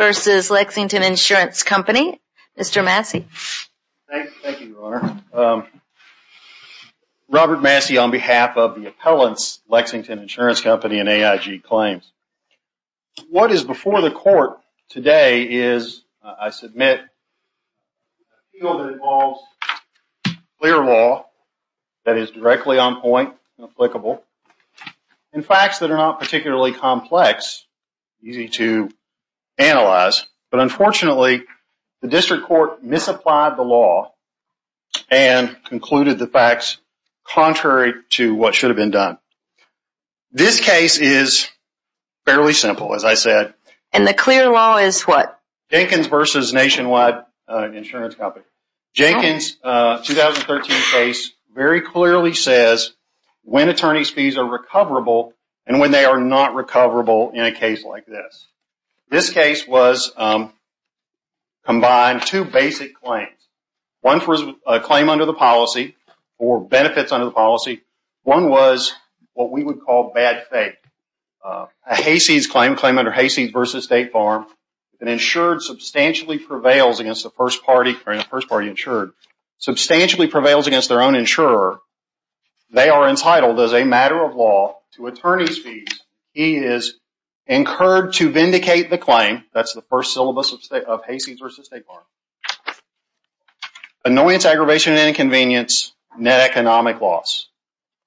Robert Massey, on behalf of the Appellants Lexington Insurance Company and AIG Claims. What is before the court today is, I submit, a field that involves clear law that is directly on point and applicable and facts that are not particularly complex, easy to analyze, but unfortunately, the district court misapplied the law and concluded the facts contrary to what should have been done. This case is fairly simple, as I said. And the clear law is what? Jenkins v. Nationwide Insurance Company. Jenkins 2013 case very clearly says when attorney's fees are recoverable and when they are not recoverable in a case like this. This case was combined two basic claims. One was a claim under the policy or benefits under the policy. One was what we would call bad faith. A Hayseeds claim, a claim under Hayseeds v. State Farm, an insured substantially prevails against their own insurer, they are entitled as a matter of law to attorney's fees. He is incurred to vindicate the claim, that's the first syllabus of Hayseeds v. State Farm. Annoyance, aggravation, and inconvenience, net economic loss.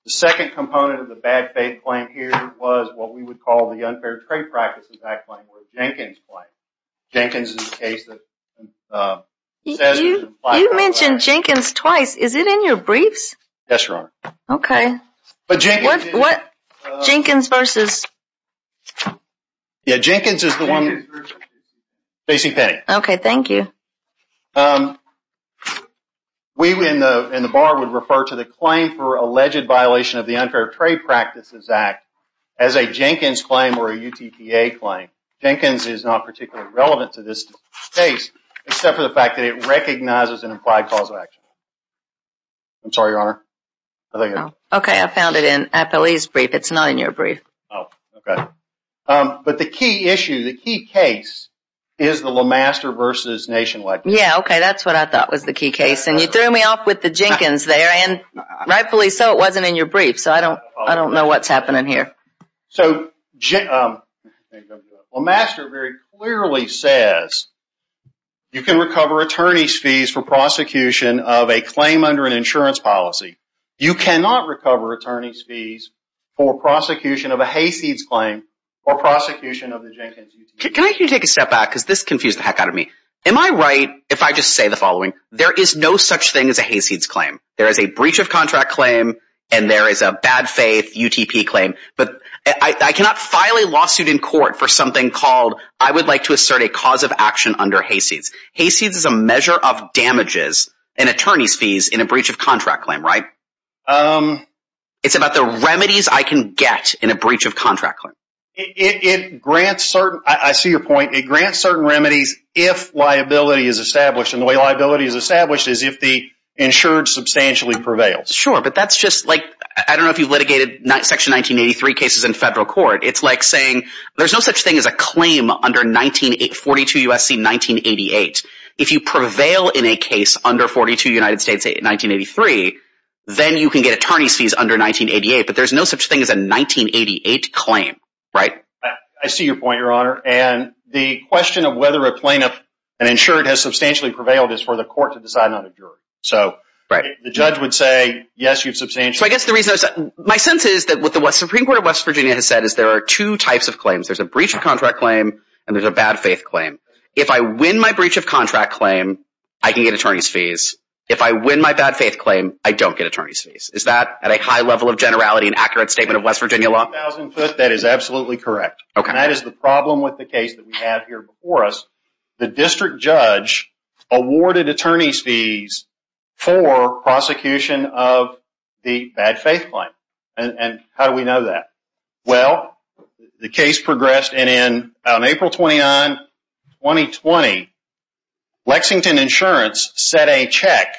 The second component of the bad faith claim here was what we would call the unfair trade practice of that claim, the Jenkins claim. Jenkins is a case that says... You mentioned Jenkins twice, is it in your mind? Jenkins v.... Jenkins is the one... facing penny. Okay, thank you. We in the bar would refer to the claim for alleged violation of the Unfair Trade Practices Act as a Jenkins claim or a UTPA claim. Jenkins is not particularly relevant to this case, except for the fact that it recognizes an implied cause of action. I'm sorry, Your Honor. Okay, I found it in Appellee's brief, it's not in your brief. Oh, okay. But the key issue, the key case is the LeMaster v. Nationwide. Yeah, okay, that's what I thought was the key case, and you threw me off with the Jenkins there and rightfully so, it wasn't in your brief, so I don't know what's happening here. So, LeMaster very clearly says you can recover attorney's fees for prosecution of a claim under an insurance policy. You cannot recover attorney's fees for prosecution of a Hayseeds claim or prosecution of a Jenkins UTPA claim. Can I ask you to take a step back, because this confused the heck out of me. Am I right if I just say the following, there is no such thing as a Hayseeds claim. There is a breach of contract claim, and there is a bad faith UTP claim, but I cannot file a lawsuit in court for something called, I would like to assert a cause of action under Hayseeds. Hayseeds is a measure of damages in attorney's fees in a breach of contract claim, right? It's about the remedies I can get in a breach of contract claim. It grants certain, I see your point, it grants certain remedies if liability is established, and the way liability is established is if the insured substantially prevails. Sure, but that's just like, I don't know if you litigated section 1983 cases in federal court, it's like saying there's no such thing as a claim under 42 USC 1988. If you prevail in a case under 42 United States 1983, then you can get attorney's fees under 1988, but there's no such thing as a 1988 claim, right? I see your point, your honor, and the question of whether a plaintiff and insured has substantially prevailed is for the court to decide on a jury. So, the judge would say, yes, you've substantially prevailed. So I guess the reason, my sense is that what the Supreme Court of West Virginia has said is there are two types of claims. There's a breach of contract claim, and there's a claim, I can get attorney's fees. If I win my bad faith claim, I don't get attorney's fees. Is that at a high level of generality and accurate statement of West Virginia law? That is absolutely correct, and that is the problem with the case that we have here before us. The district judge awarded attorney's fees for prosecution of the bad faith claim, and how do we know that? Well, the case progressed, and in April 29, 2020, Lexington Insurance set a check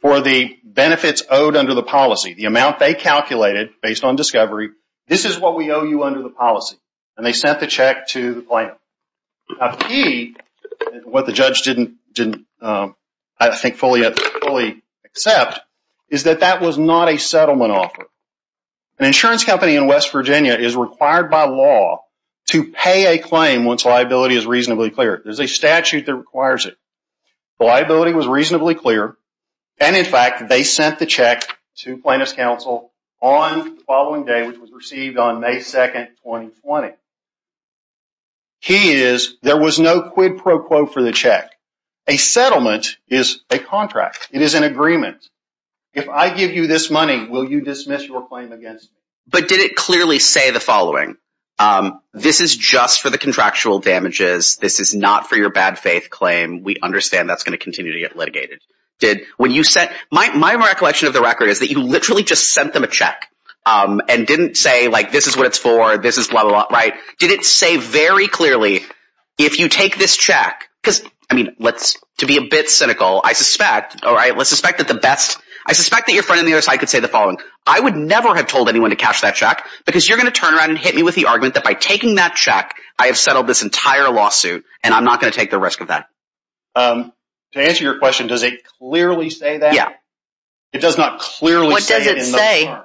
for the benefits owed under the policy. The amount they calculated based on discovery, this is what we owe you under the policy, and they sent the check to the plaintiff. A key, what the judge didn't, I think, fully accept is that that was not a settlement offer. An insurance company in West Virginia is required by law to pay a claim once liability is reasonably clear. There's a statute that requires it. The liability was reasonably clear, and in fact, they sent the check to plaintiff's counsel on the following day, which was received on May 2, 2020. The key is there was no quid pro quo for the check. A settlement is a contract. It is an agreement. If I give you this money, will you dismiss your claim against me? But did it clearly say the following? This is just for the contractual damages. This is not for your bad faith claim. We understand that's going to continue to get litigated. Did, when you said, my recollection of the record is that you literally just sent them a check and didn't say, like, this is what it's for, this is blah, blah, blah, right? Did it say very clearly, if you take this check, because, I mean, let's, to be a bit cynical, I suspect, all right, let's suspect that the best, I suspect that your friend on the other side could say the following. I would never have told anyone to cash that check, because you're going to turn around and hit me with the argument that by taking that check, I have settled this entire lawsuit, and I'm not going to take the risk of that. To answer your question, does it clearly say that? It does not clearly say in those cards. What does it say?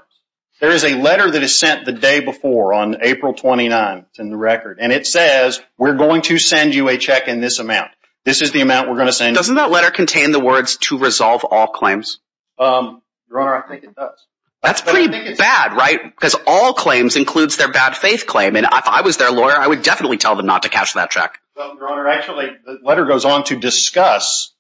There is a letter that is sent the day before on April 29th in the record, and it says, we're going to send you a check in this amount. This is the amount we're going to send you. Doesn't that letter contain the words, to resolve all claims? Your Honor, I think it does. That's pretty bad, right? Because all claims includes their bad faith claim, and if I was their lawyer, I would definitely tell them not to cash that check. No, Your Honor, actually, the letter goes on to discuss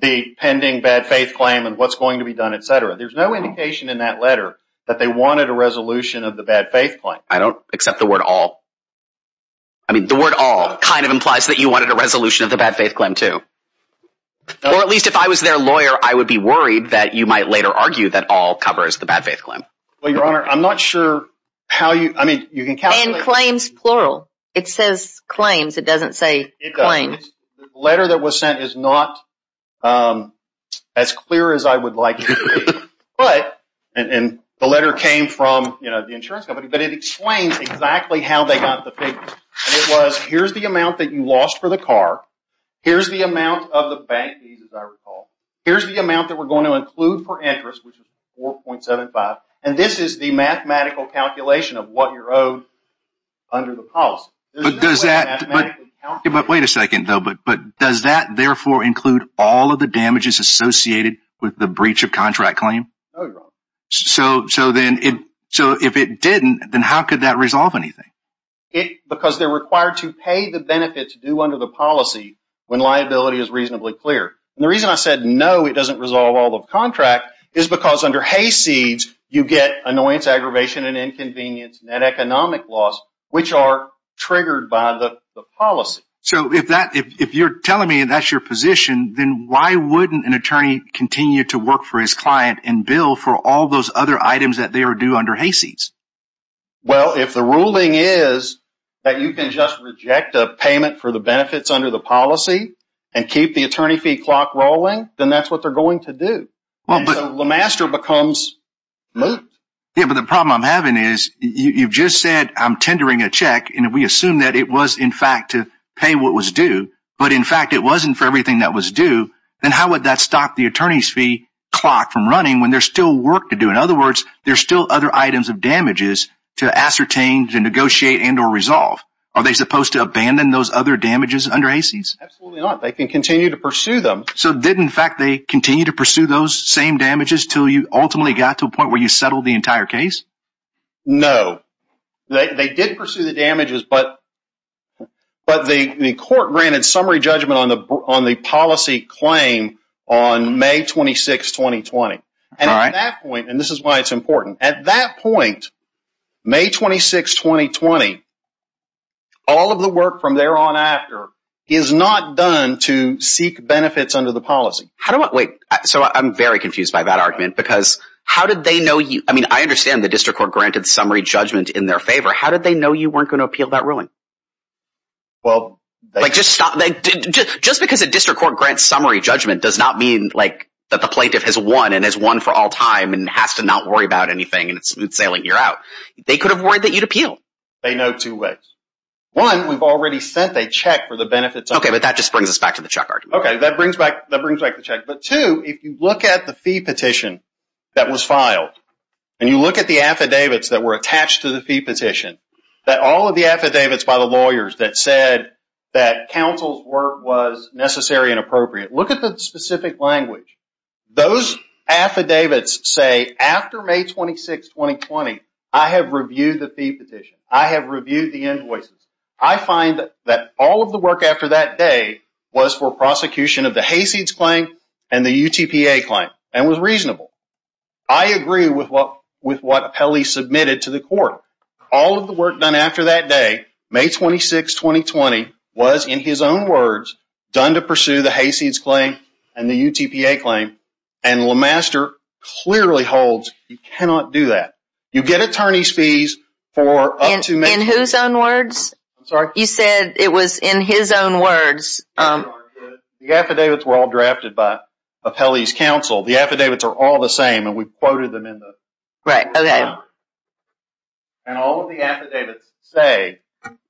the pending bad faith claim and what's going to be done, etc. There's no indication in that letter that they wanted a resolution of the bad faith claim. I don't accept the word all. I mean, the word all kind of implies that you wanted a resolution of the bad faith claim, too. Or at least, if I was their lawyer, I would be worried that you might later argue that all covers the bad faith claim. Well, Your Honor, I'm not sure how you... And claims plural. It says claims. It doesn't say claim. The letter that was sent is not as clear as I would like it to be. The letter came from the insurance company, but it explains exactly how they got the papers. It was, here's the amount that you lost for the car, here's the amount of the bank fees, as I recall, here's the amount that we're going to include for interest, which is 4.75, and this is the mathematical calculation of what you're owed under the policy. Wait a second, though. But does that, therefore, include all of the damages associated with the breach of contract claim? No, Your Honor. So, if it didn't, then how could that resolve anything? Because they're required to pay the benefits due under the policy when liability is reasonably clear. And the reason I said, no, it doesn't resolve all of the contract is because under hayseeds, you get annoyance, aggravation, and inconvenience, net economic loss, which are triggered by the policy. So, if you're telling me that's your position, then why wouldn't an attorney continue to work for his client and bill for all those other items that they are due under hayseeds? Well, if the ruling is that you can just reject a payment for the benefits under the policy and keep the attorney fee clock rolling, then that's what they're going to do. And so, LeMaster becomes moot. Yeah, but the problem I'm having is you've just said I'm tendering a check, and we assume that it was, in fact, to pay what was due. But, in fact, it wasn't for everything that was due. Then how would that stop the attorney's fee clock from running when there's still work to do? In other words, there's still other items of damages to ascertain, to negotiate, and or resolve. Are they supposed to abandon those other damages under hayseeds? Absolutely not. They can continue to pursue them. So, did, in fact, they continue to pursue those same damages until you ultimately got to a point where you settled the entire case? No. They did pursue the damages, but the court granted summary judgment on the policy claim on May 26, 2020. And at that point, and this is why it's important, at that point, May 26, 2020, all of the work from there on after is not done to seek benefits under the policy. Wait, so I'm very confused by that argument because how did they know you? I mean, I understand the district court granted summary judgment in their favor. How did they know you weren't going to appeal that ruling? Well, they... Just because a district court grants summary judgment does not mean that the plaintiff has won and has won for all time and has to not worry about anything and it's smooth sailing year out. They could have worried that you'd appeal. They know two ways. One, we've already sent a check for the benefits... Okay, but that just brings us back to the check argument. Okay, that brings back the check. But two, if you look at the fee petition that was filed and you look at the affidavits that were attached to the fee petition, that all of the affidavits by the lawyers that said that counsel's work was necessary and appropriate, look at the specific language. Those affidavits say, after May 26, 2020, I have reviewed the fee petition. I have reviewed the invoices. I find that all of the work after that day was for prosecution of the Hayseeds claim and the UTPA claim and was reasonable. I agree with what Pelley submitted to the court. All of the work done after that day, May 26, 2020, was, in his own words, done to pursue the Hayseeds claim and the UTPA claim, and LeMaster clearly holds you cannot do that. You get attorney's fees for up to... In whose own words? I'm sorry? You said it was in his own words. The affidavits were all drafted by Pelley's counsel. The affidavits are all the same, and we quoted them in the... Right, okay. And all of the affidavits say,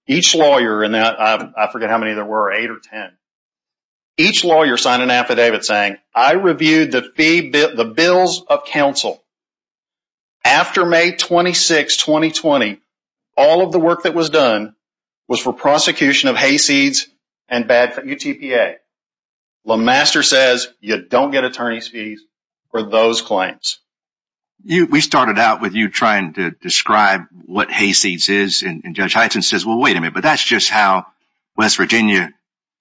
each lawyer, and I forget how many there were, eight or ten, each lawyer signed an affidavit saying, I reviewed the bills of counsel. After May 26, 2020, all of the work that was done was for prosecution of Hayseeds and UTPA. LeMaster says you don't get attorney's fees for those claims. We started out with you trying to describe what Hayseeds is, and Judge Heitzen says, well, wait a minute, but that's just how West Virginia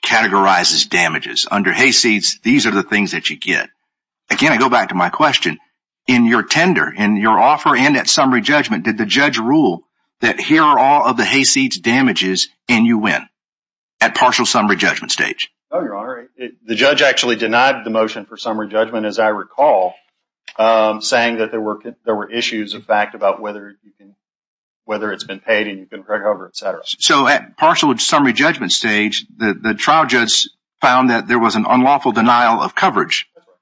categorizes damages. Under Hayseeds, these are the things that you get. Again, I go back to my question. In your tender, in your offer, and at summary judgment, did the judge rule that here are all of the Hayseeds damages, and you win, at partial summary judgment stage? No, Your Honor, the judge actually denied the motion for summary judgment, as I recall, saying that there were issues, in fact, about whether it's been paid and you can recover, et cetera. So at partial summary judgment stage, the trial judge found that there was an unlawful denial of coverage. That's right.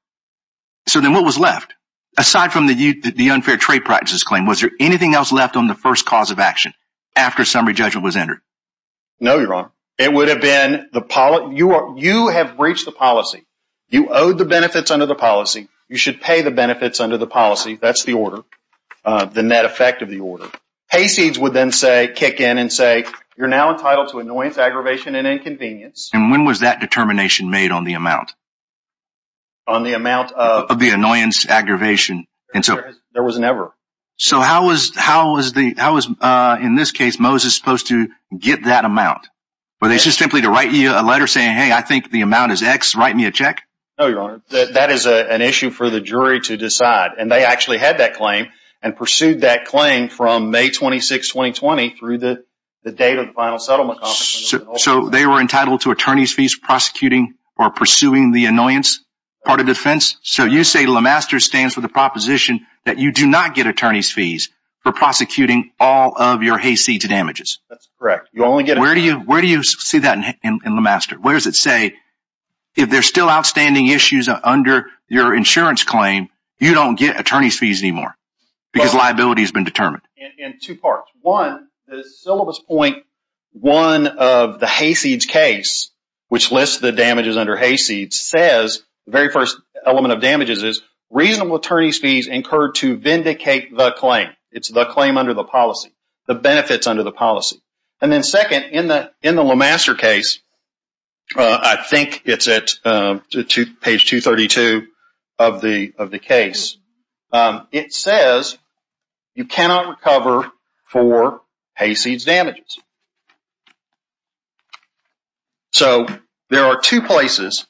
So then what was left? Aside from the unfair trade practices claim, was there anything else left on the first cause of action after summary judgment was entered? No, Your Honor. It would have been the policy. You have breached the policy. You owed the benefits under the policy. You should pay the benefits under the policy. That's the order, the net effect of the order. Hayseeds would then say, kick in and say, you're now entitled to annoyance, aggravation, and inconvenience. And when was that determination made on the amount? On the amount of the annoyance, aggravation. There was never. So how is, in this case, Moses supposed to get that amount? Were they just simply to write you a letter saying, hey, I think the amount is X, write me a check? No, Your Honor. That is an issue for the jury to decide. And they actually had that claim and pursued that claim from May 26, 2020, through the date of the final settlement. So they were entitled to attorney's fees prosecuting or pursuing the annoyance part of defense? So you say LeMaster stands for the proposition that you do not get attorney's fees for prosecuting all of your Hayseeds damages? That's correct. Where do you see that in LeMaster? Where does it say if there's still outstanding issues under your insurance claim, you don't get attorney's fees anymore because liability has been determined? In two parts. One, the syllabus point one of the Hayseeds case, which lists the damages under Hayseeds, says the very first element of damages is reasonable attorney's fees incurred to vindicate the claim. It's the claim under the policy, the benefits under the policy. And then second, in the LeMaster case, I think it's at page 232 of the case, it says you cannot recover for Hayseeds damages. So there are two places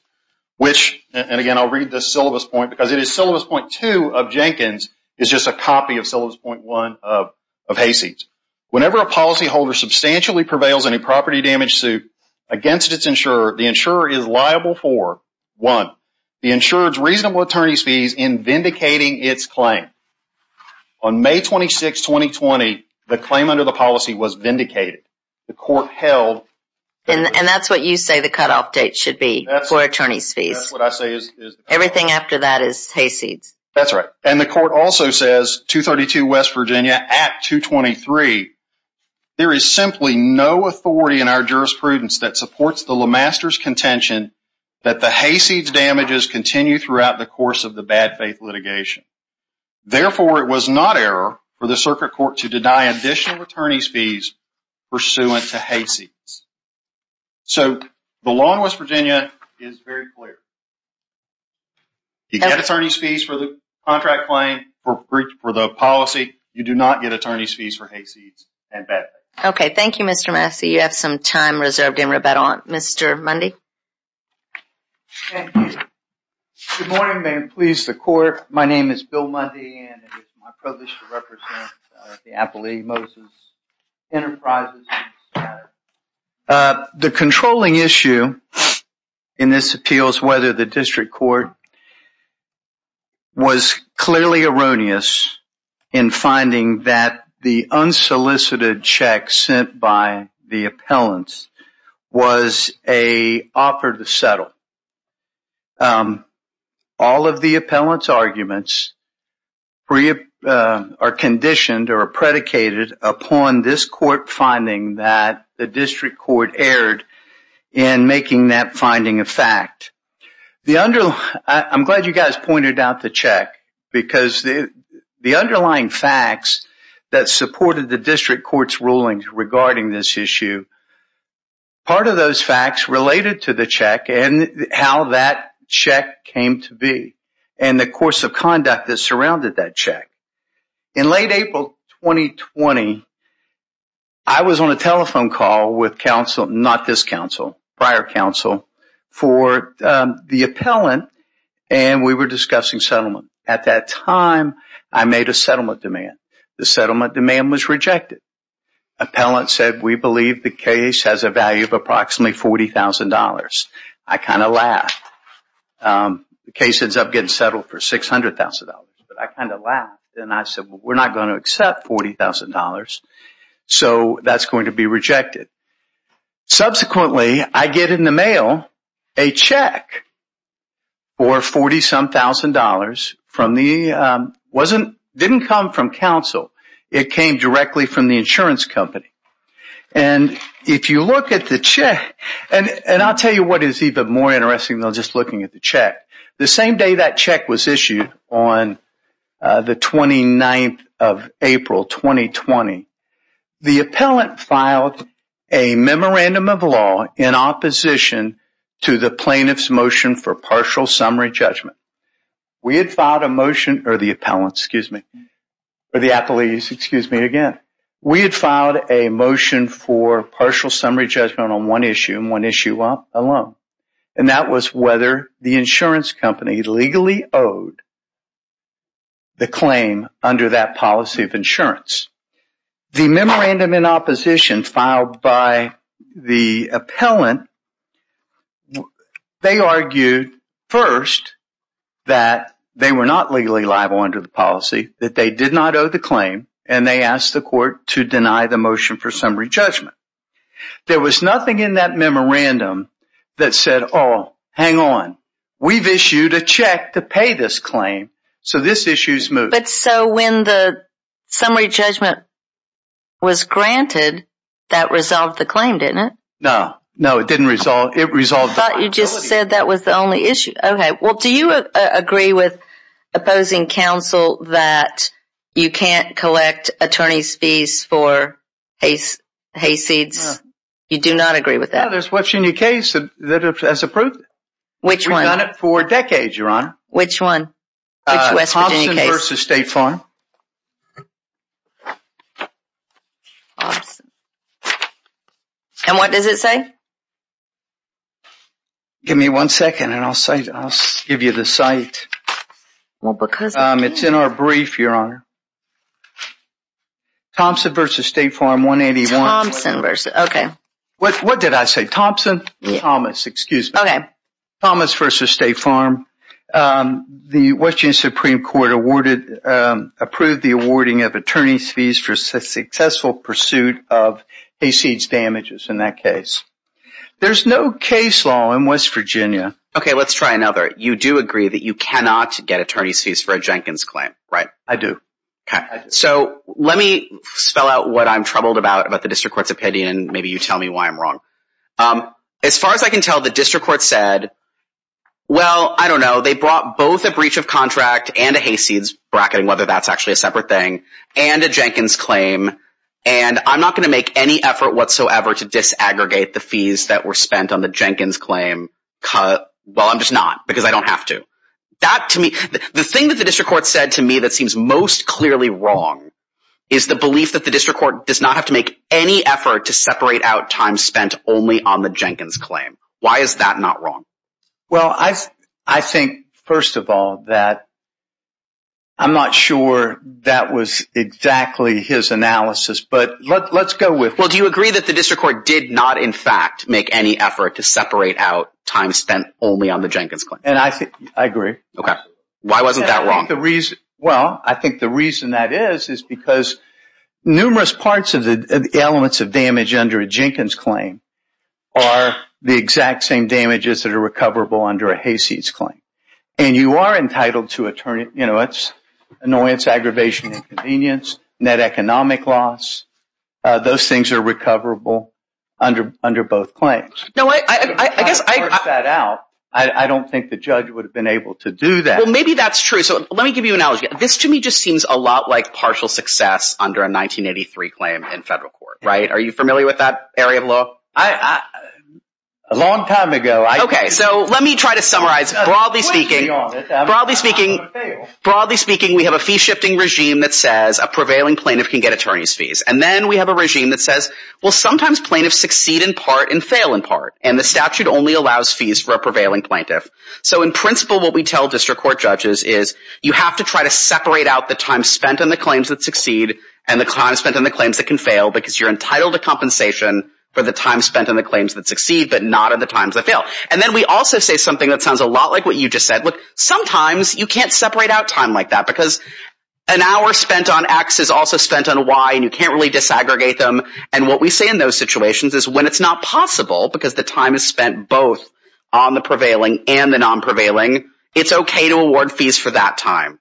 which, and again I'll read the syllabus point, because it is syllabus point two of Jenkins, is just a copy of syllabus point one of Hayseeds. Whenever a policyholder substantially prevails in a property damage suit against its insurer, the insurer is liable for, one, the insurer's reasonable attorney's fees in vindicating its claim. On May 26, 2020, the claim under the policy was vindicated. The court held... And that's what you say the cutoff date should be for attorney's fees. That's what I say is... Everything after that is Hayseeds. That's right. And the court also says, 232 West Virginia Act 223, there is simply no authority in our jurisprudence that supports the LeMaster's contention that the Hayseeds damages continue throughout the course of the bad faith litigation. Therefore, it was not error for the circuit court to deny additional attorney's fees pursuant to Hayseeds. So the law in West Virginia is very clear. You get attorney's fees for the contract claim, for the policy. You do not get attorney's fees for Hayseeds and bad faith. Okay, thank you, Mr. Massey. You have some time reserved in rebuttal. Mr. Mundy? Thank you. Good morning, and may it please the court. My name is Bill Mundy, and it is my privilege to represent the Appalachian Moses Enterprises. The controlling issue in this appeal is whether the district court was clearly erroneous in finding that the unsolicited check sent by the appellants was an offer to settle. All of the appellants' arguments are conditioned or predicated upon this court finding that the district court erred in making that finding a fact. I'm glad you guys pointed out the check because the underlying facts that supported the district court's rulings regarding this issue, part of those facts related to the check and how that check came to be and the course of conduct that surrounded that check. In late April 2020, I was on a telephone call with prior counsel for the appellant, and we were discussing settlement. At that time, I made a settlement demand. The settlement demand was rejected. The appellant said, we believe the case has a value of approximately $40,000. I kind of laughed. The case ends up getting settled for $600,000, but I kind of laughed. I said, we're not going to accept $40,000, so that's going to be rejected. Subsequently, I get in the mail a check for $40,000. It didn't come from counsel. It came directly from the insurance company. If you look at the check, and I'll tell you what is even more interesting than just looking at the check. The same day that check was issued, on the 29th of April 2020, the appellant filed a memorandum of law in opposition to the plaintiff's motion for partial summary judgment. We had filed a motion, or the appellant, excuse me, or the appellees, excuse me, again. We had filed a motion for partial summary judgment on one issue, and one issue alone, and that was whether the insurance company legally owed the claim under that policy of insurance. The memorandum in opposition filed by the appellant, they argued first that they were not legally liable under the policy, that they did not owe the claim, and they asked the court to deny the motion for summary judgment. There was nothing in that memorandum that said, oh, hang on, we've issued a check to pay this claim, so this issue's moved. But so when the summary judgment was granted, that resolved the claim, didn't it? No, no, it didn't resolve, it resolved the claim. I thought you just said that was the only issue. Okay, well, do you agree with opposing counsel that you can't collect attorney's fees for hay seeds? No. You do not agree with that? No, there's a West Virginia case that has approved it. Which one? We've done it for decades, Your Honor. Which one? Which West Virginia case? Thompson v. State Farm. Thompson. And what does it say? Give me one second, and I'll give you the site. It's in our brief, Your Honor. Thompson v. State Farm, 181. Thompson v. Okay. What did I say? Thompson v. Thomas. Excuse me. Okay. Thomas v. State Farm. The West Virginia Supreme Court approved the awarding of attorney's fees for successful pursuit of hay seeds damages in that case. There's no case law in West Virginia. Okay, let's try another. You do agree that you cannot get attorney's fees for a Jenkins claim, right? I do. Okay. So let me spell out what I'm troubled about about the district court's opinion, and maybe you tell me why I'm wrong. As far as I can tell, the district court said, well, I don't know, they brought both a breach of contract and a hay seeds, bracketing whether that's actually a separate thing, and a Jenkins claim, and I'm not going to make any effort whatsoever to disaggregate the fees that were spent on the Jenkins claim. Well, I'm just not, because I don't have to. The thing that the district court said to me that seems most clearly wrong is the belief that the district court does not have to make any effort to separate out time spent only on the Jenkins claim. Why is that not wrong? Well, I think, first of all, that I'm not sure that was exactly his analysis, but let's go with it. Well, do you agree that the district court did not, in fact, make any effort to separate out time spent only on the Jenkins claim? I agree. Okay. Why wasn't that wrong? Well, I think the reason that is is because numerous parts of the elements of damage under a Jenkins claim are the exact same damages that are recoverable under a hay seeds claim, and you are entitled to attorney, you know, annoyance, aggravation, inconvenience, net economic loss. Those things are recoverable under both claims. No, I guess I – I don't think the judge would have been able to do that. Well, maybe that's true. So let me give you an analogy. This, to me, just seems a lot like partial success under a 1983 claim in federal court, right? Are you familiar with that area of law? A long time ago. Okay, so let me try to summarize. Broadly speaking, we have a fee-shifting regime that says a prevailing plaintiff can get attorney's fees, and then we have a regime that says, well, sometimes plaintiffs succeed in part and fail in part, and the statute only allows fees for a prevailing plaintiff. So in principle, what we tell district court judges is you have to try to separate out the time spent on the claims that succeed and the time spent on the claims that can fail because you're entitled to compensation for the time spent on the claims that succeed but not on the times that fail. And then we also say something that sounds a lot like what you just said. Look, sometimes you can't separate out time like that because an hour spent on X is also spent on Y, and you can't really disaggregate them. And what we say in those situations is when it's not possible because the time is spent both on the prevailing and the non-prevailing, it's okay to award fees for that time.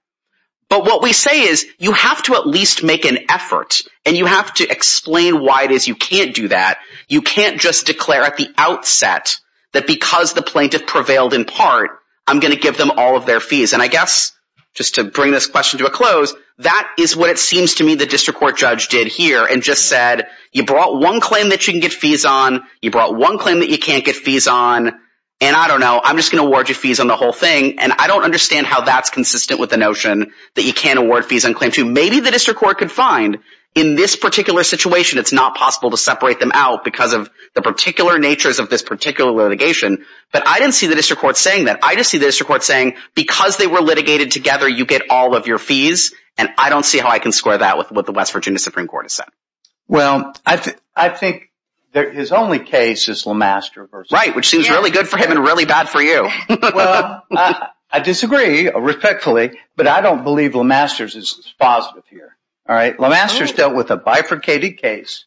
But what we say is you have to at least make an effort, and you have to explain why it is you can't do that. You can't just declare at the outset that because the plaintiff prevailed in part, I'm going to give them all of their fees. And I guess, just to bring this question to a close, that is what it seems to me the district court judge did here and just said, you brought one claim that you can get fees on, you brought one claim that you can't get fees on, and I don't know, I'm just going to award you fees on the whole thing. And I don't understand how that's consistent with the notion that you can't award fees on claims. Maybe the district court could find in this particular situation it's not possible to separate them out because of the particular natures of this particular litigation, but I didn't see the district court saying that. I just see the district court saying because they were litigated together, you get all of your fees, and I don't see how I can square that with what the West Virginia Supreme Court has said. Well, I think his only case is Lemaster v. Right, which seems really good for him and really bad for you. Well, I disagree, respectfully, but I don't believe Lemaster's is positive here. Lemaster's dealt with a bifurcated case,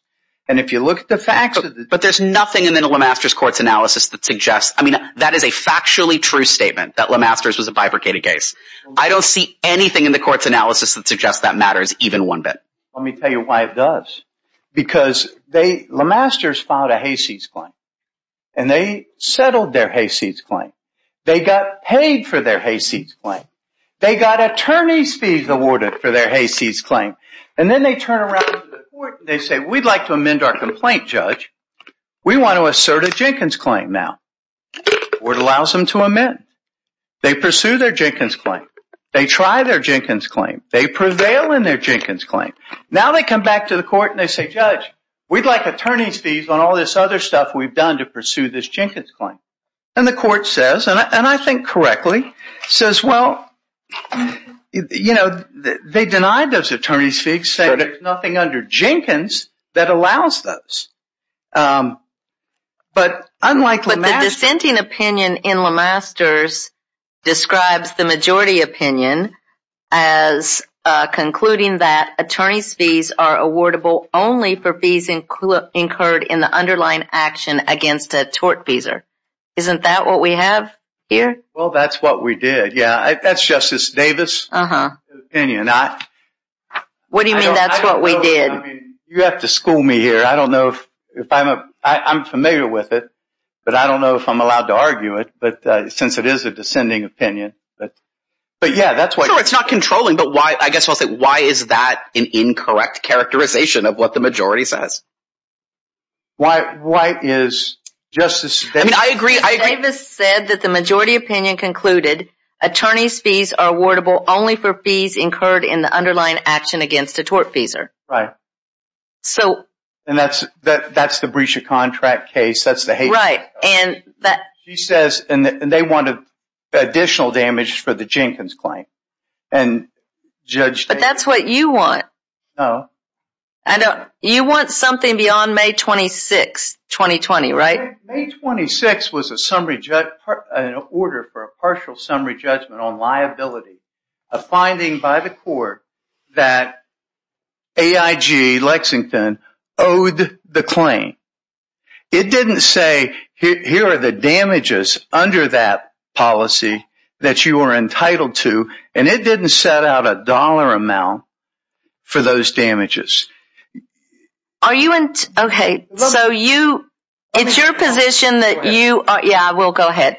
and if you look at the facts of this. But there's nothing in the Lemaster's court's analysis that suggests, I mean, that is a factually true statement that Lemaster's was a bifurcated case. I don't see anything in the court's analysis that suggests that matters even one bit. Let me tell you why it does. Because Lemaster's filed a Hayseed's claim, and they settled their Hayseed's claim. They got paid for their Hayseed's claim. They got attorney's fees awarded for their Hayseed's claim, and then they turn around to the court, and they say, we'd like to amend our complaint, Judge. We want to assert a Jenkins claim now. The court allows them to amend. They pursue their Jenkins claim. They try their Jenkins claim. They prevail in their Jenkins claim. Now they come back to the court, and they say, Judge, we'd like attorney's fees on all this other stuff we've done to pursue this Jenkins claim. And the court says, and I think correctly, says, well, you know, they denied those attorney's fees, saying there's nothing under Jenkins that allows those. But unlike Lemaster's. The dissenting opinion in Lemaster's describes the majority opinion as concluding that attorney's fees are awardable only for fees incurred in the underlying action against a tortfeasor. Isn't that what we have here? Well, that's what we did. Yeah. That's Justice Davis. Uh-huh. And you're not. What do you mean? That's what we did. You have to school me here. I don't know if, if I'm, I'm familiar with it, but I don't know if I'm allowed to argue it, but, uh, since it is a descending opinion, but, but yeah, that's why it's not controlling. But why, I guess I'll say, why is that an incorrect characterization of what the majority says? Why? Why is justice? I mean, I agree. I said that the majority opinion concluded attorney's fees are awardable only for fees incurred in the underlying action against a tortfeasor. Right. So. And that's, that's the breach of contract case. That's the hate. Right. And that she says, and they wanted additional damage for the Jenkins claim. And judge, but that's what you want. Oh, I don't. You want something beyond may 26, 2020, right? May 26 was a summary judge, an order for a partial summary judgment on liability, a finding by the court that AIG Lexington owed the claim. It didn't say here are the damages under that policy that you are entitled to. And it didn't set out a dollar amount for those damages. Are you in? Okay. So you, it's your position that you are. Yeah, I will go ahead.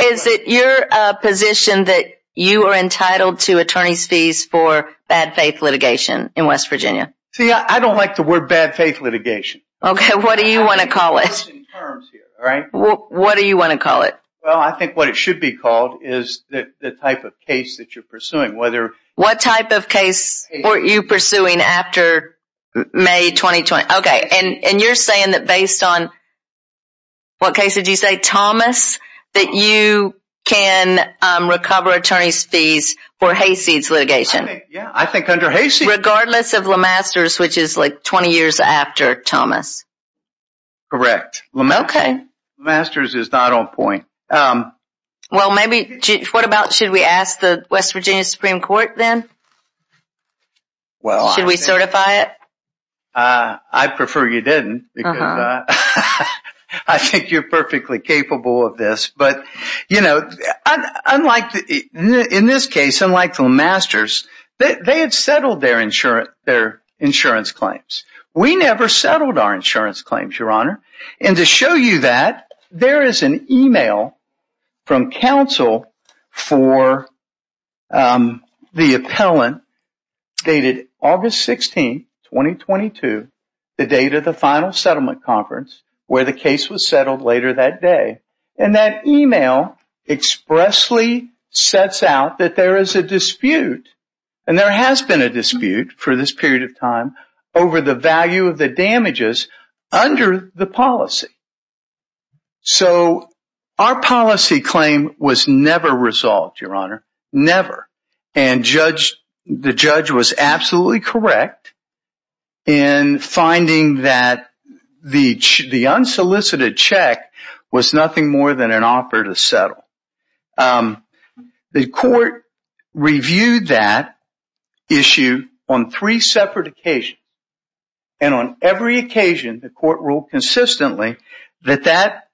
Is it your position that you are entitled to attorney's fees for bad faith litigation in West Virginia? See, I don't like the word bad faith litigation. Okay. What do you want to call it? All right. What do you want to call it? Well, I think what it should be called is that the type of case that you're pursuing, whether what type of case were you pursuing after may 2020. Okay. And, and you're saying that based on what case did you say, Thomas, that you can recover attorney's fees for hayseeds litigation. Yeah. Correct. Okay. Masters is not on point. Well, maybe what about, should we ask the West Virginia Supreme court then? Well, should we certify it? I prefer you didn't. I think you're perfectly capable of this, but you know, unlike in this case, unlike the masters, they had settled their insurance, their insurance claims. We never settled our insurance claims, your honor. And to show you that there is an email from council for, um, the appellant dated August 16th, 2022, the date of the final settlement conference where the case was settled later that day. And that email expressly sets out that there is a dispute. And there has been a dispute for this period of time over the value of the damages under the policy. So our policy claim was never resolved, your honor, never. And judge, the judge was absolutely correct in finding that the, the unsolicited check was nothing more than an offer to settle. Um, the court reviewed that issue on three separate occasions. And on every occasion, the court ruled consistently that that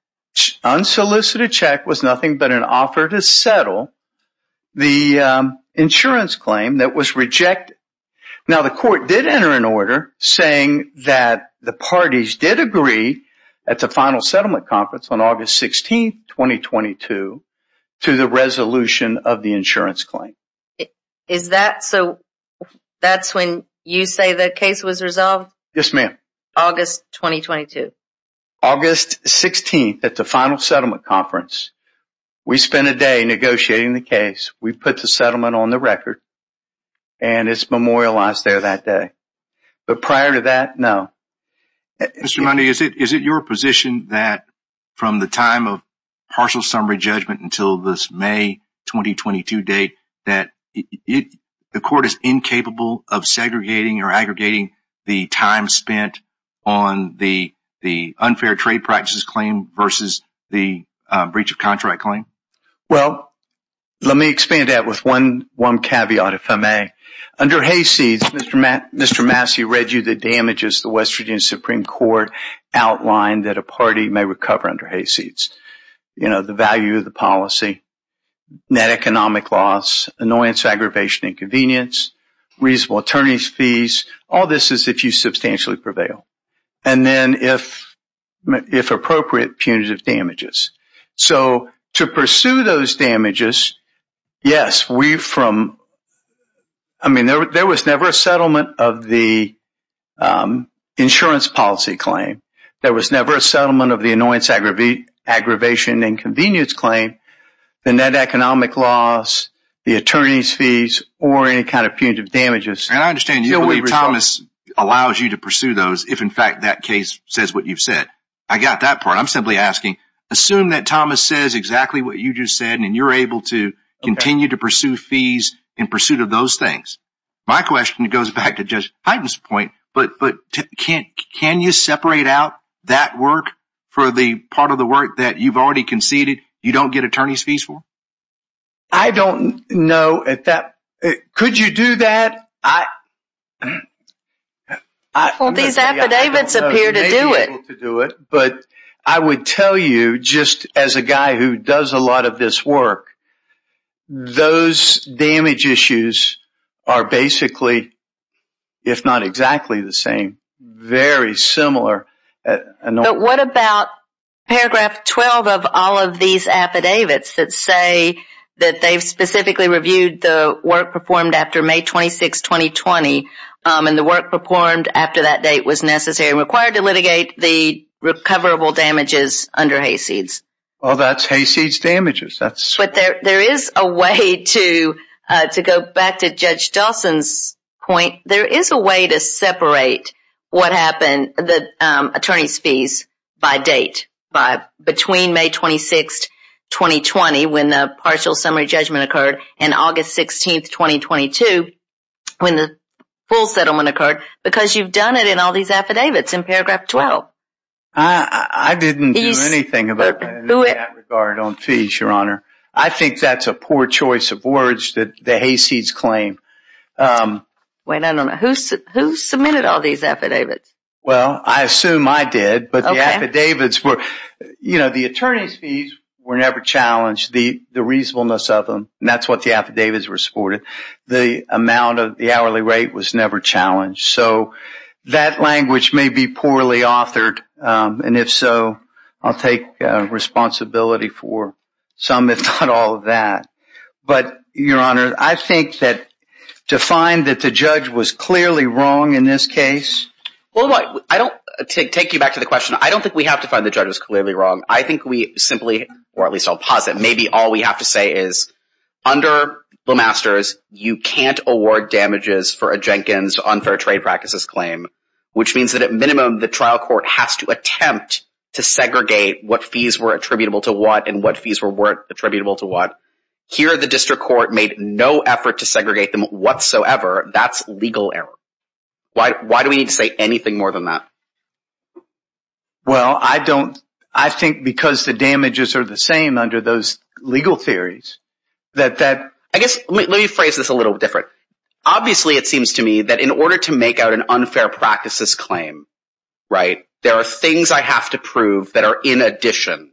unsolicited check was nothing but an offer to settle the, um, insurance claim that was rejected. Now the court did enter an order saying that the parties did agree at the time of the insurance claim. Is that, so that's when you say the case was resolved? Yes, ma'am. August, 2022, August 16th at the final settlement conference. We spent a day negotiating the case. We've put the settlement on the record and it's memorialized there that day. But prior to that, no. Is it, is it your position that from the time of partial summary judgment until this 2022 date, that it, the court is incapable of segregating or aggregating the time spent on the, the unfair trade practices claim versus the, uh, breach of contract claim? Well, let me expand that with one, one caveat, if I may. Under hayseeds, Mr. Matt, Mr. Massey read you the damages, the West Virginia Supreme Court outlined that a party may recover under hayseeds, you know, the value of the policy. Net economic loss, annoyance, aggravation, inconvenience, reasonable attorney's fees. All this is if you substantially prevail. And then if, if appropriate punitive damages. So to pursue those damages. Yes, we've from, I mean, there, there was never a settlement of the, um, insurance policy claim. There was never a settlement of the annoyance, aggravate aggravation and convenience claim. The net economic loss, the attorney's fees, or any kind of punitive damages. And I understand you. Thomas allows you to pursue those. If in fact, that case says what you've said, I got that part. I'm simply asking. Assume that Thomas says exactly what you just said. And you're able to continue to pursue fees in pursuit of those things. My question goes back to judge heightens point, but, but can't, can you separate out that work? For the part of the work that you've already conceded. You don't get attorney's fees for. I don't know at that. Could you do that? I, I, well, these affidavits appear to do it, to do it. But I would tell you just as a guy who does a lot of this work, those damage issues are basically, if not exactly the same, very similar. But what about paragraph 12 of all of these affidavits that say that they've specifically reviewed the work performed after may 26, 2020. And the work performed after that date was necessary and required to litigate the recoverable damages under hayseeds. Oh, that's hayseeds damages. That's what there, there is a way to, to go back to judge Dawson's point. There is a way to separate what happened. The attorney's fees by date by between may 26th, 2020, when the partial summary judgment occurred in August 16th, 2022, when the full settlement occurred, because you've done it in all these affidavits in paragraph 12. I didn't do anything about that regard on fees, your honor. I think that's a poor choice of words that the hayseeds claim. Wait, I don't know who, who submitted all these affidavits. Well, I assume I did, but the affidavits were, you know, the attorney's fees were never challenged the, the reasonableness of them. And that's what the affidavits were supported. The amount of the hourly rate was never challenged. So that language may be poorly authored. And if so, I'll take responsibility for some, if not all of that, but your honor, I think that to find that the judge was clearly wrong in this case, I don't take, take you back to the question. I don't think we have to find the judges clearly wrong. I think we simply, or at least I'll posit. Maybe all we have to say is under the masters. You can't award damages for a Jenkins unfair trade practices claim, which means that at minimum, the trial court has to attempt to segregate what fees were attributable to what, and what fees were worth attributable to what here, the district court made no effort to segregate them whatsoever. That's legal error. Why, why do we need to say anything more than that? Well, I don't, I think because the damages are the same under those legal theories that, that I guess, let me phrase this a little different. Obviously it seems to me that in order to make out an unfair practices claim, right? There are things I have to prove that are in addition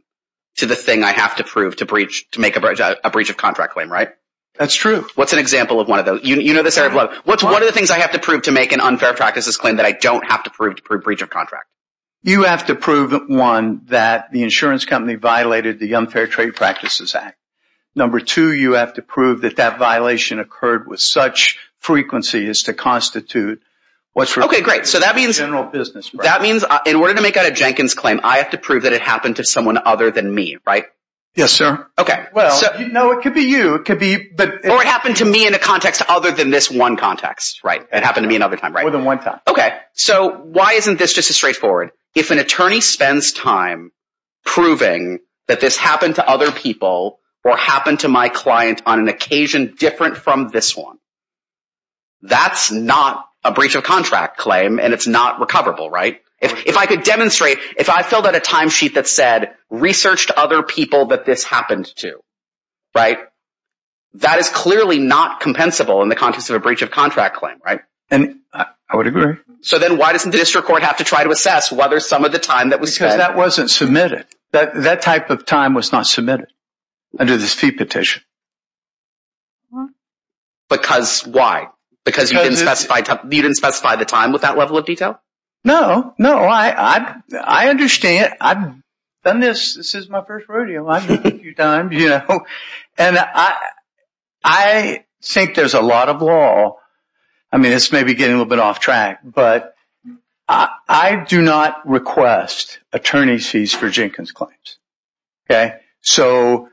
to the thing I have to prove to breach, to make a bridge, a breach of contract claim, right? What's an example of one of those, you know, this area of what's, one of the things I have to prove to make an unfair practices claim that I don't have to prove to prove breach of contract. You have to prove that one, that the insurance company violated the unfair trade practices act. Number two, you have to prove that that violation occurred with such frequency as to constitute. Okay, great. So that means general business, that means in order to make out a Jenkins claim, I have to prove that it happened to someone other than me, Yes, Okay. you know, it could be you, it could be, but, or it happened to me in a context other than this one context, right? It happened to me another time, right? More than one time. Okay. So why isn't this just as straightforward? If an attorney spends time proving that this happened to other people or happened to my client on an occasion different from this one, that's not a breach of contract claim and it's not recoverable, right? If I could demonstrate, if I filled out a timesheet that said research to other people that this happened to, right? That is clearly not compensable in the context of a breach of contract claim, right? I would agree. So then why doesn't the district court have to try to assess whether some of the time that was spent, Because that wasn't submitted. That type of time was not submitted under this fee petition. Because why? Because you didn't specify the time with that level of detail? No, no, I understand. I've done this. This is my first rodeo. I've done it a few times, you know, and I think there's a lot of law. I mean, it's maybe getting a little bit off track, but I do not request attorney's fees for Jenkins claims. Okay. So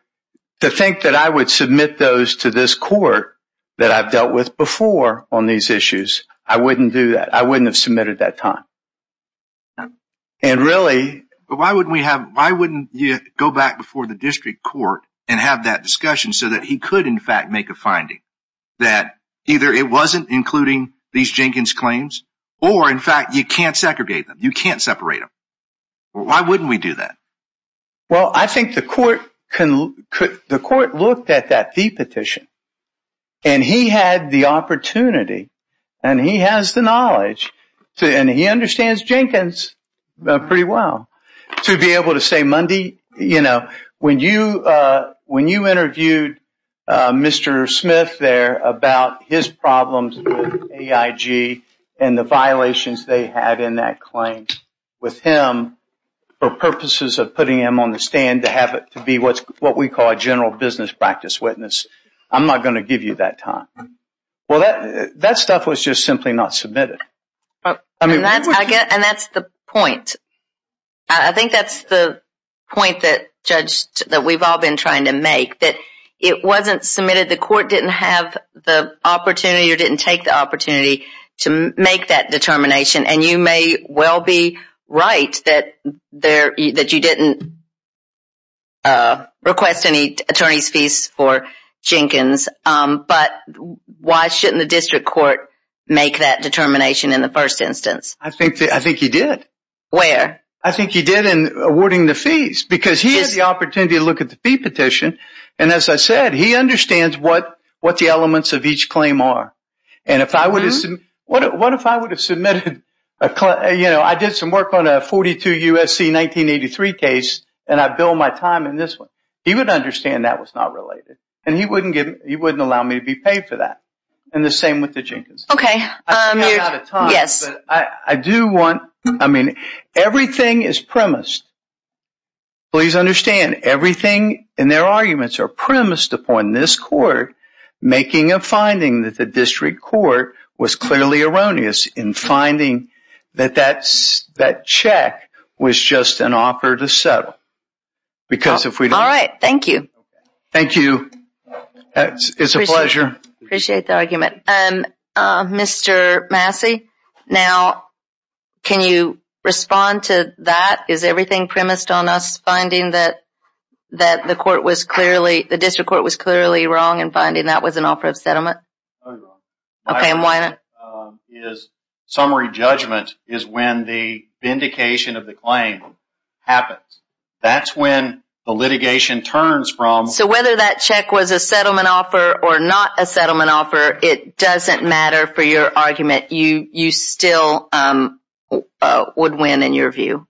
to think that I would submit those to this court that I've dealt with before on these issues, I wouldn't do that. I wouldn't have submitted that time. And really, but why wouldn't we have, why wouldn't you go back before the district court and have that discussion so that he could, in fact, make a finding that either it wasn't including these Jenkins claims, or in fact, you can't segregate them. You can't separate them. Why wouldn't we do that? Well, I think the court can, the court looked at that fee petition. And he had the opportunity and he has the knowledge to, and he understands Jenkins pretty well to be able to say Monday, you know, when you, when you interviewed Mr. Smith there about his problems with AIG and the violations they had in that claim with him for purposes of putting him on the stand to have it to be what's what we call a general business practice witness. I'm not going to give you that time. Well, that stuff was just simply not submitted. And that's, I guess, and that's the point. I think that's the point that judge, that we've all been trying to make that it wasn't submitted. The court didn't have the opportunity or didn't take the opportunity to make that determination. And you may well be right that there, that you didn't request any attorney's fees for Jenkins. But why shouldn't the district court make that determination in the first instance? I think, I think he did where I think he did in awarding the fees because he has the opportunity to look at the fee petition. And as I said, he understands what, what the elements of each claim are. And if I would have, what, what if I would have submitted a, you know, I did some work on a 42 USC, 1983 case and I build my time in this one, he would understand that was not related. And he wouldn't give him, he wouldn't allow me to be paid for that. And the same with the Jenkins. Okay. Yes, I do want, I mean, everything is premised. Please understand everything in their arguments are premised upon this court making a finding that the district court was clearly erroneous in finding that that's that check was just an offer to settle because if we, all right, thank you. Thank you. It's a pleasure. Appreciate the argument. Mr. Massey. Now, can you respond to that? Is everything premised on us finding that, that the court was clearly, the district court was clearly wrong and finding that was an offer of settlement. Okay. And why is summary judgment is when the indication of the claim happens. That's when the litigation turns from. So whether that check was a settlement offer or not a settlement offer, it doesn't matter for your argument. You, you still would win in your view.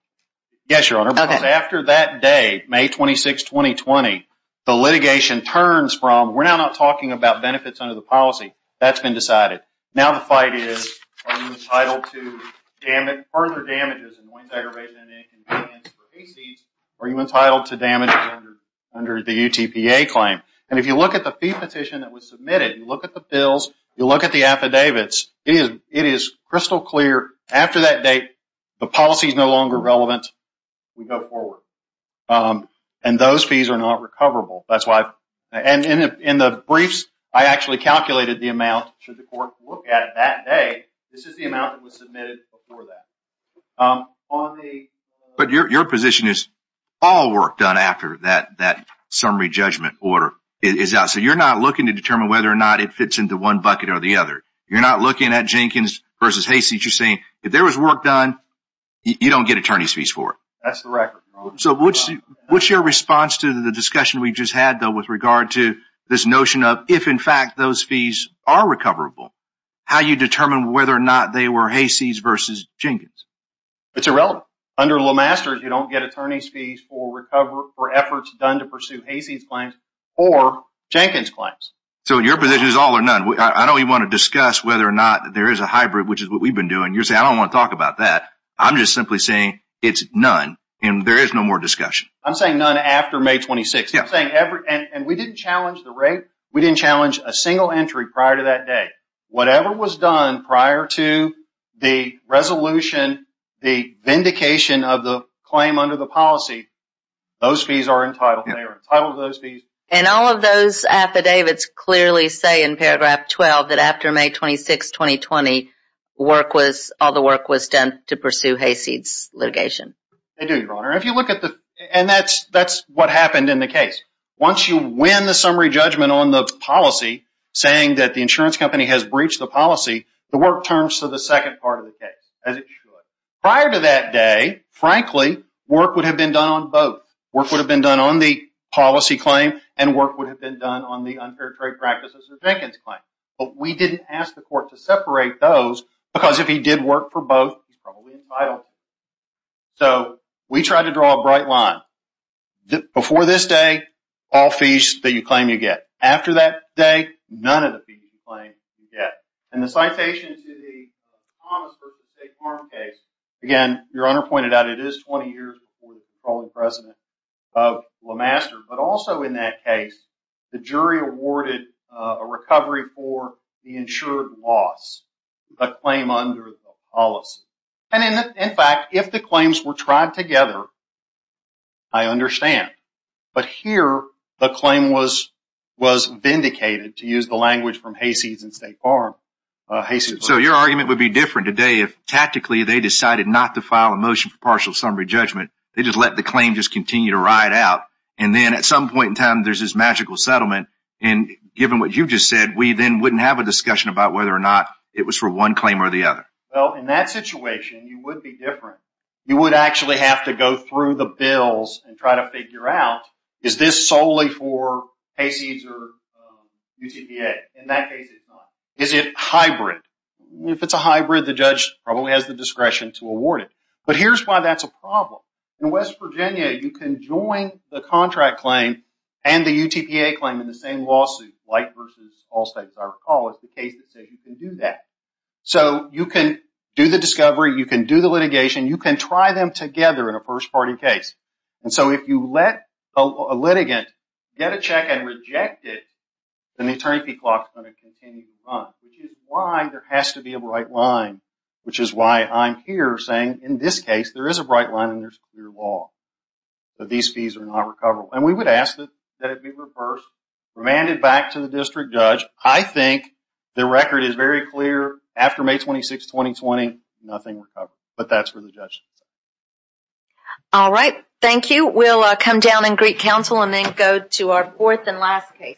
Yes, Your Honor. After that day, May 26, 2020, the litigation turns from, we're now not talking about benefits under the policy that's been decided. Now, the fight is, are you entitled to damage, further damages, annoyance, aggravation, and inconvenience for ACs? Are you entitled to damage under, under the UTPA claim? And if you look at the fee petition that was submitted, you look at the bills, you look at the affidavits, it is, it is crystal clear after that date, the policy is no longer relevant. We go forward. And those fees are not recoverable. That's why. And in, in the briefs, I actually calculated the amount should the court look at it that day. This is the amount that was submitted before that. Um, on the. But your, your position is all work done after that, that summary judgment order is out. So you're not looking to determine whether or not it fits into one bucket or the other. You're not looking at Jenkins versus Hayseed. You're saying if there was work done, you don't get attorney's fees for it. That's the record. So what's, what's your response to the discussion we just had though, with regard to this notion of if in fact, those fees are recoverable, how you determine whether or not they were Hayseed versus Jenkins. It's irrelevant. Under little masters, you don't get attorney's fees for recovery or efforts done to pursue Hayseed claims or Jenkins claims. So your position is all or none. I know you want to discuss whether or not there is a hybrid, which is what we've been doing. You're saying, I don't want to talk about that. I'm just simply saying it's none. And there is no more discussion. I'm saying none after may 26th. And we didn't challenge the rate. We didn't challenge a single entry prior to that day. Whatever was done prior to the resolution, the vindication of the claim under the policy, those fees are entitled. They are entitled to those fees. And all of those affidavits clearly say in paragraph 12, that after may 26th, 2020, all the work was done to pursue Hayseed's litigation. They do, your honor. And that's what happened in the case. Once you win the summary judgment on the policy, saying that the insurance company has breached the policy, the work turns to the second part of the case, as it should. Prior to that day, frankly, work would have been done on both. Work would have been done on the policy claim, and work would have been done on the unfair trade practices of Jenkins claim. But we didn't ask the court to separate those because if he did work for both, he's probably entitled. So we tried to draw a bright line. Before this day, all fees that you claim you get. After that day, none of the fees you claim you get. And the citation to the Thomas versus State Farm case, again, your honor pointed out, it is 20 years before the controlling precedent of LeMaster, but also in that case, the jury awarded a recovery for the insured loss, a claim under the policy. And in fact, if the claims were tried together, I understand. But here, the claim was vindicated, to use the language from Hayseeds and State Farm. So your argument would be different today if tactically they decided not to file a motion for partial summary judgment. They just let the claim just continue to ride out. And then at some point in time, there's this magical settlement. And given what you've just said, we then wouldn't have a discussion about whether or not it was for one claim or the other. Well, in that situation, you would be different. You would actually have to go through the bills and try to figure out, is this solely for Hayseeds or UTPA? In that case, it's not. Is it hybrid? If it's a hybrid, the judge probably has the discretion to award it. But here's why that's a problem. In West Virginia, you can join the contract claim and the UTPA claim in the same lawsuit, Light versus All States, our call is the case that says you can do that. So you can do the discovery, you can do the litigation, you can try them together in a first-party case. And so if you let a litigant get a check and reject it, then the attorney fee clock is going to continue to run, which is why there has to be a bright line, which is why I'm here saying, in this case, there is a bright line and there's clear law that these fees are not recoverable. And we would ask that it be reversed, remanded back to the district judge. I think the record is very clear. After May 26, 2020, nothing recovered, but that's for the judge. All right. Thank you. We'll come down and greet counsel and then go to our fourth and last case.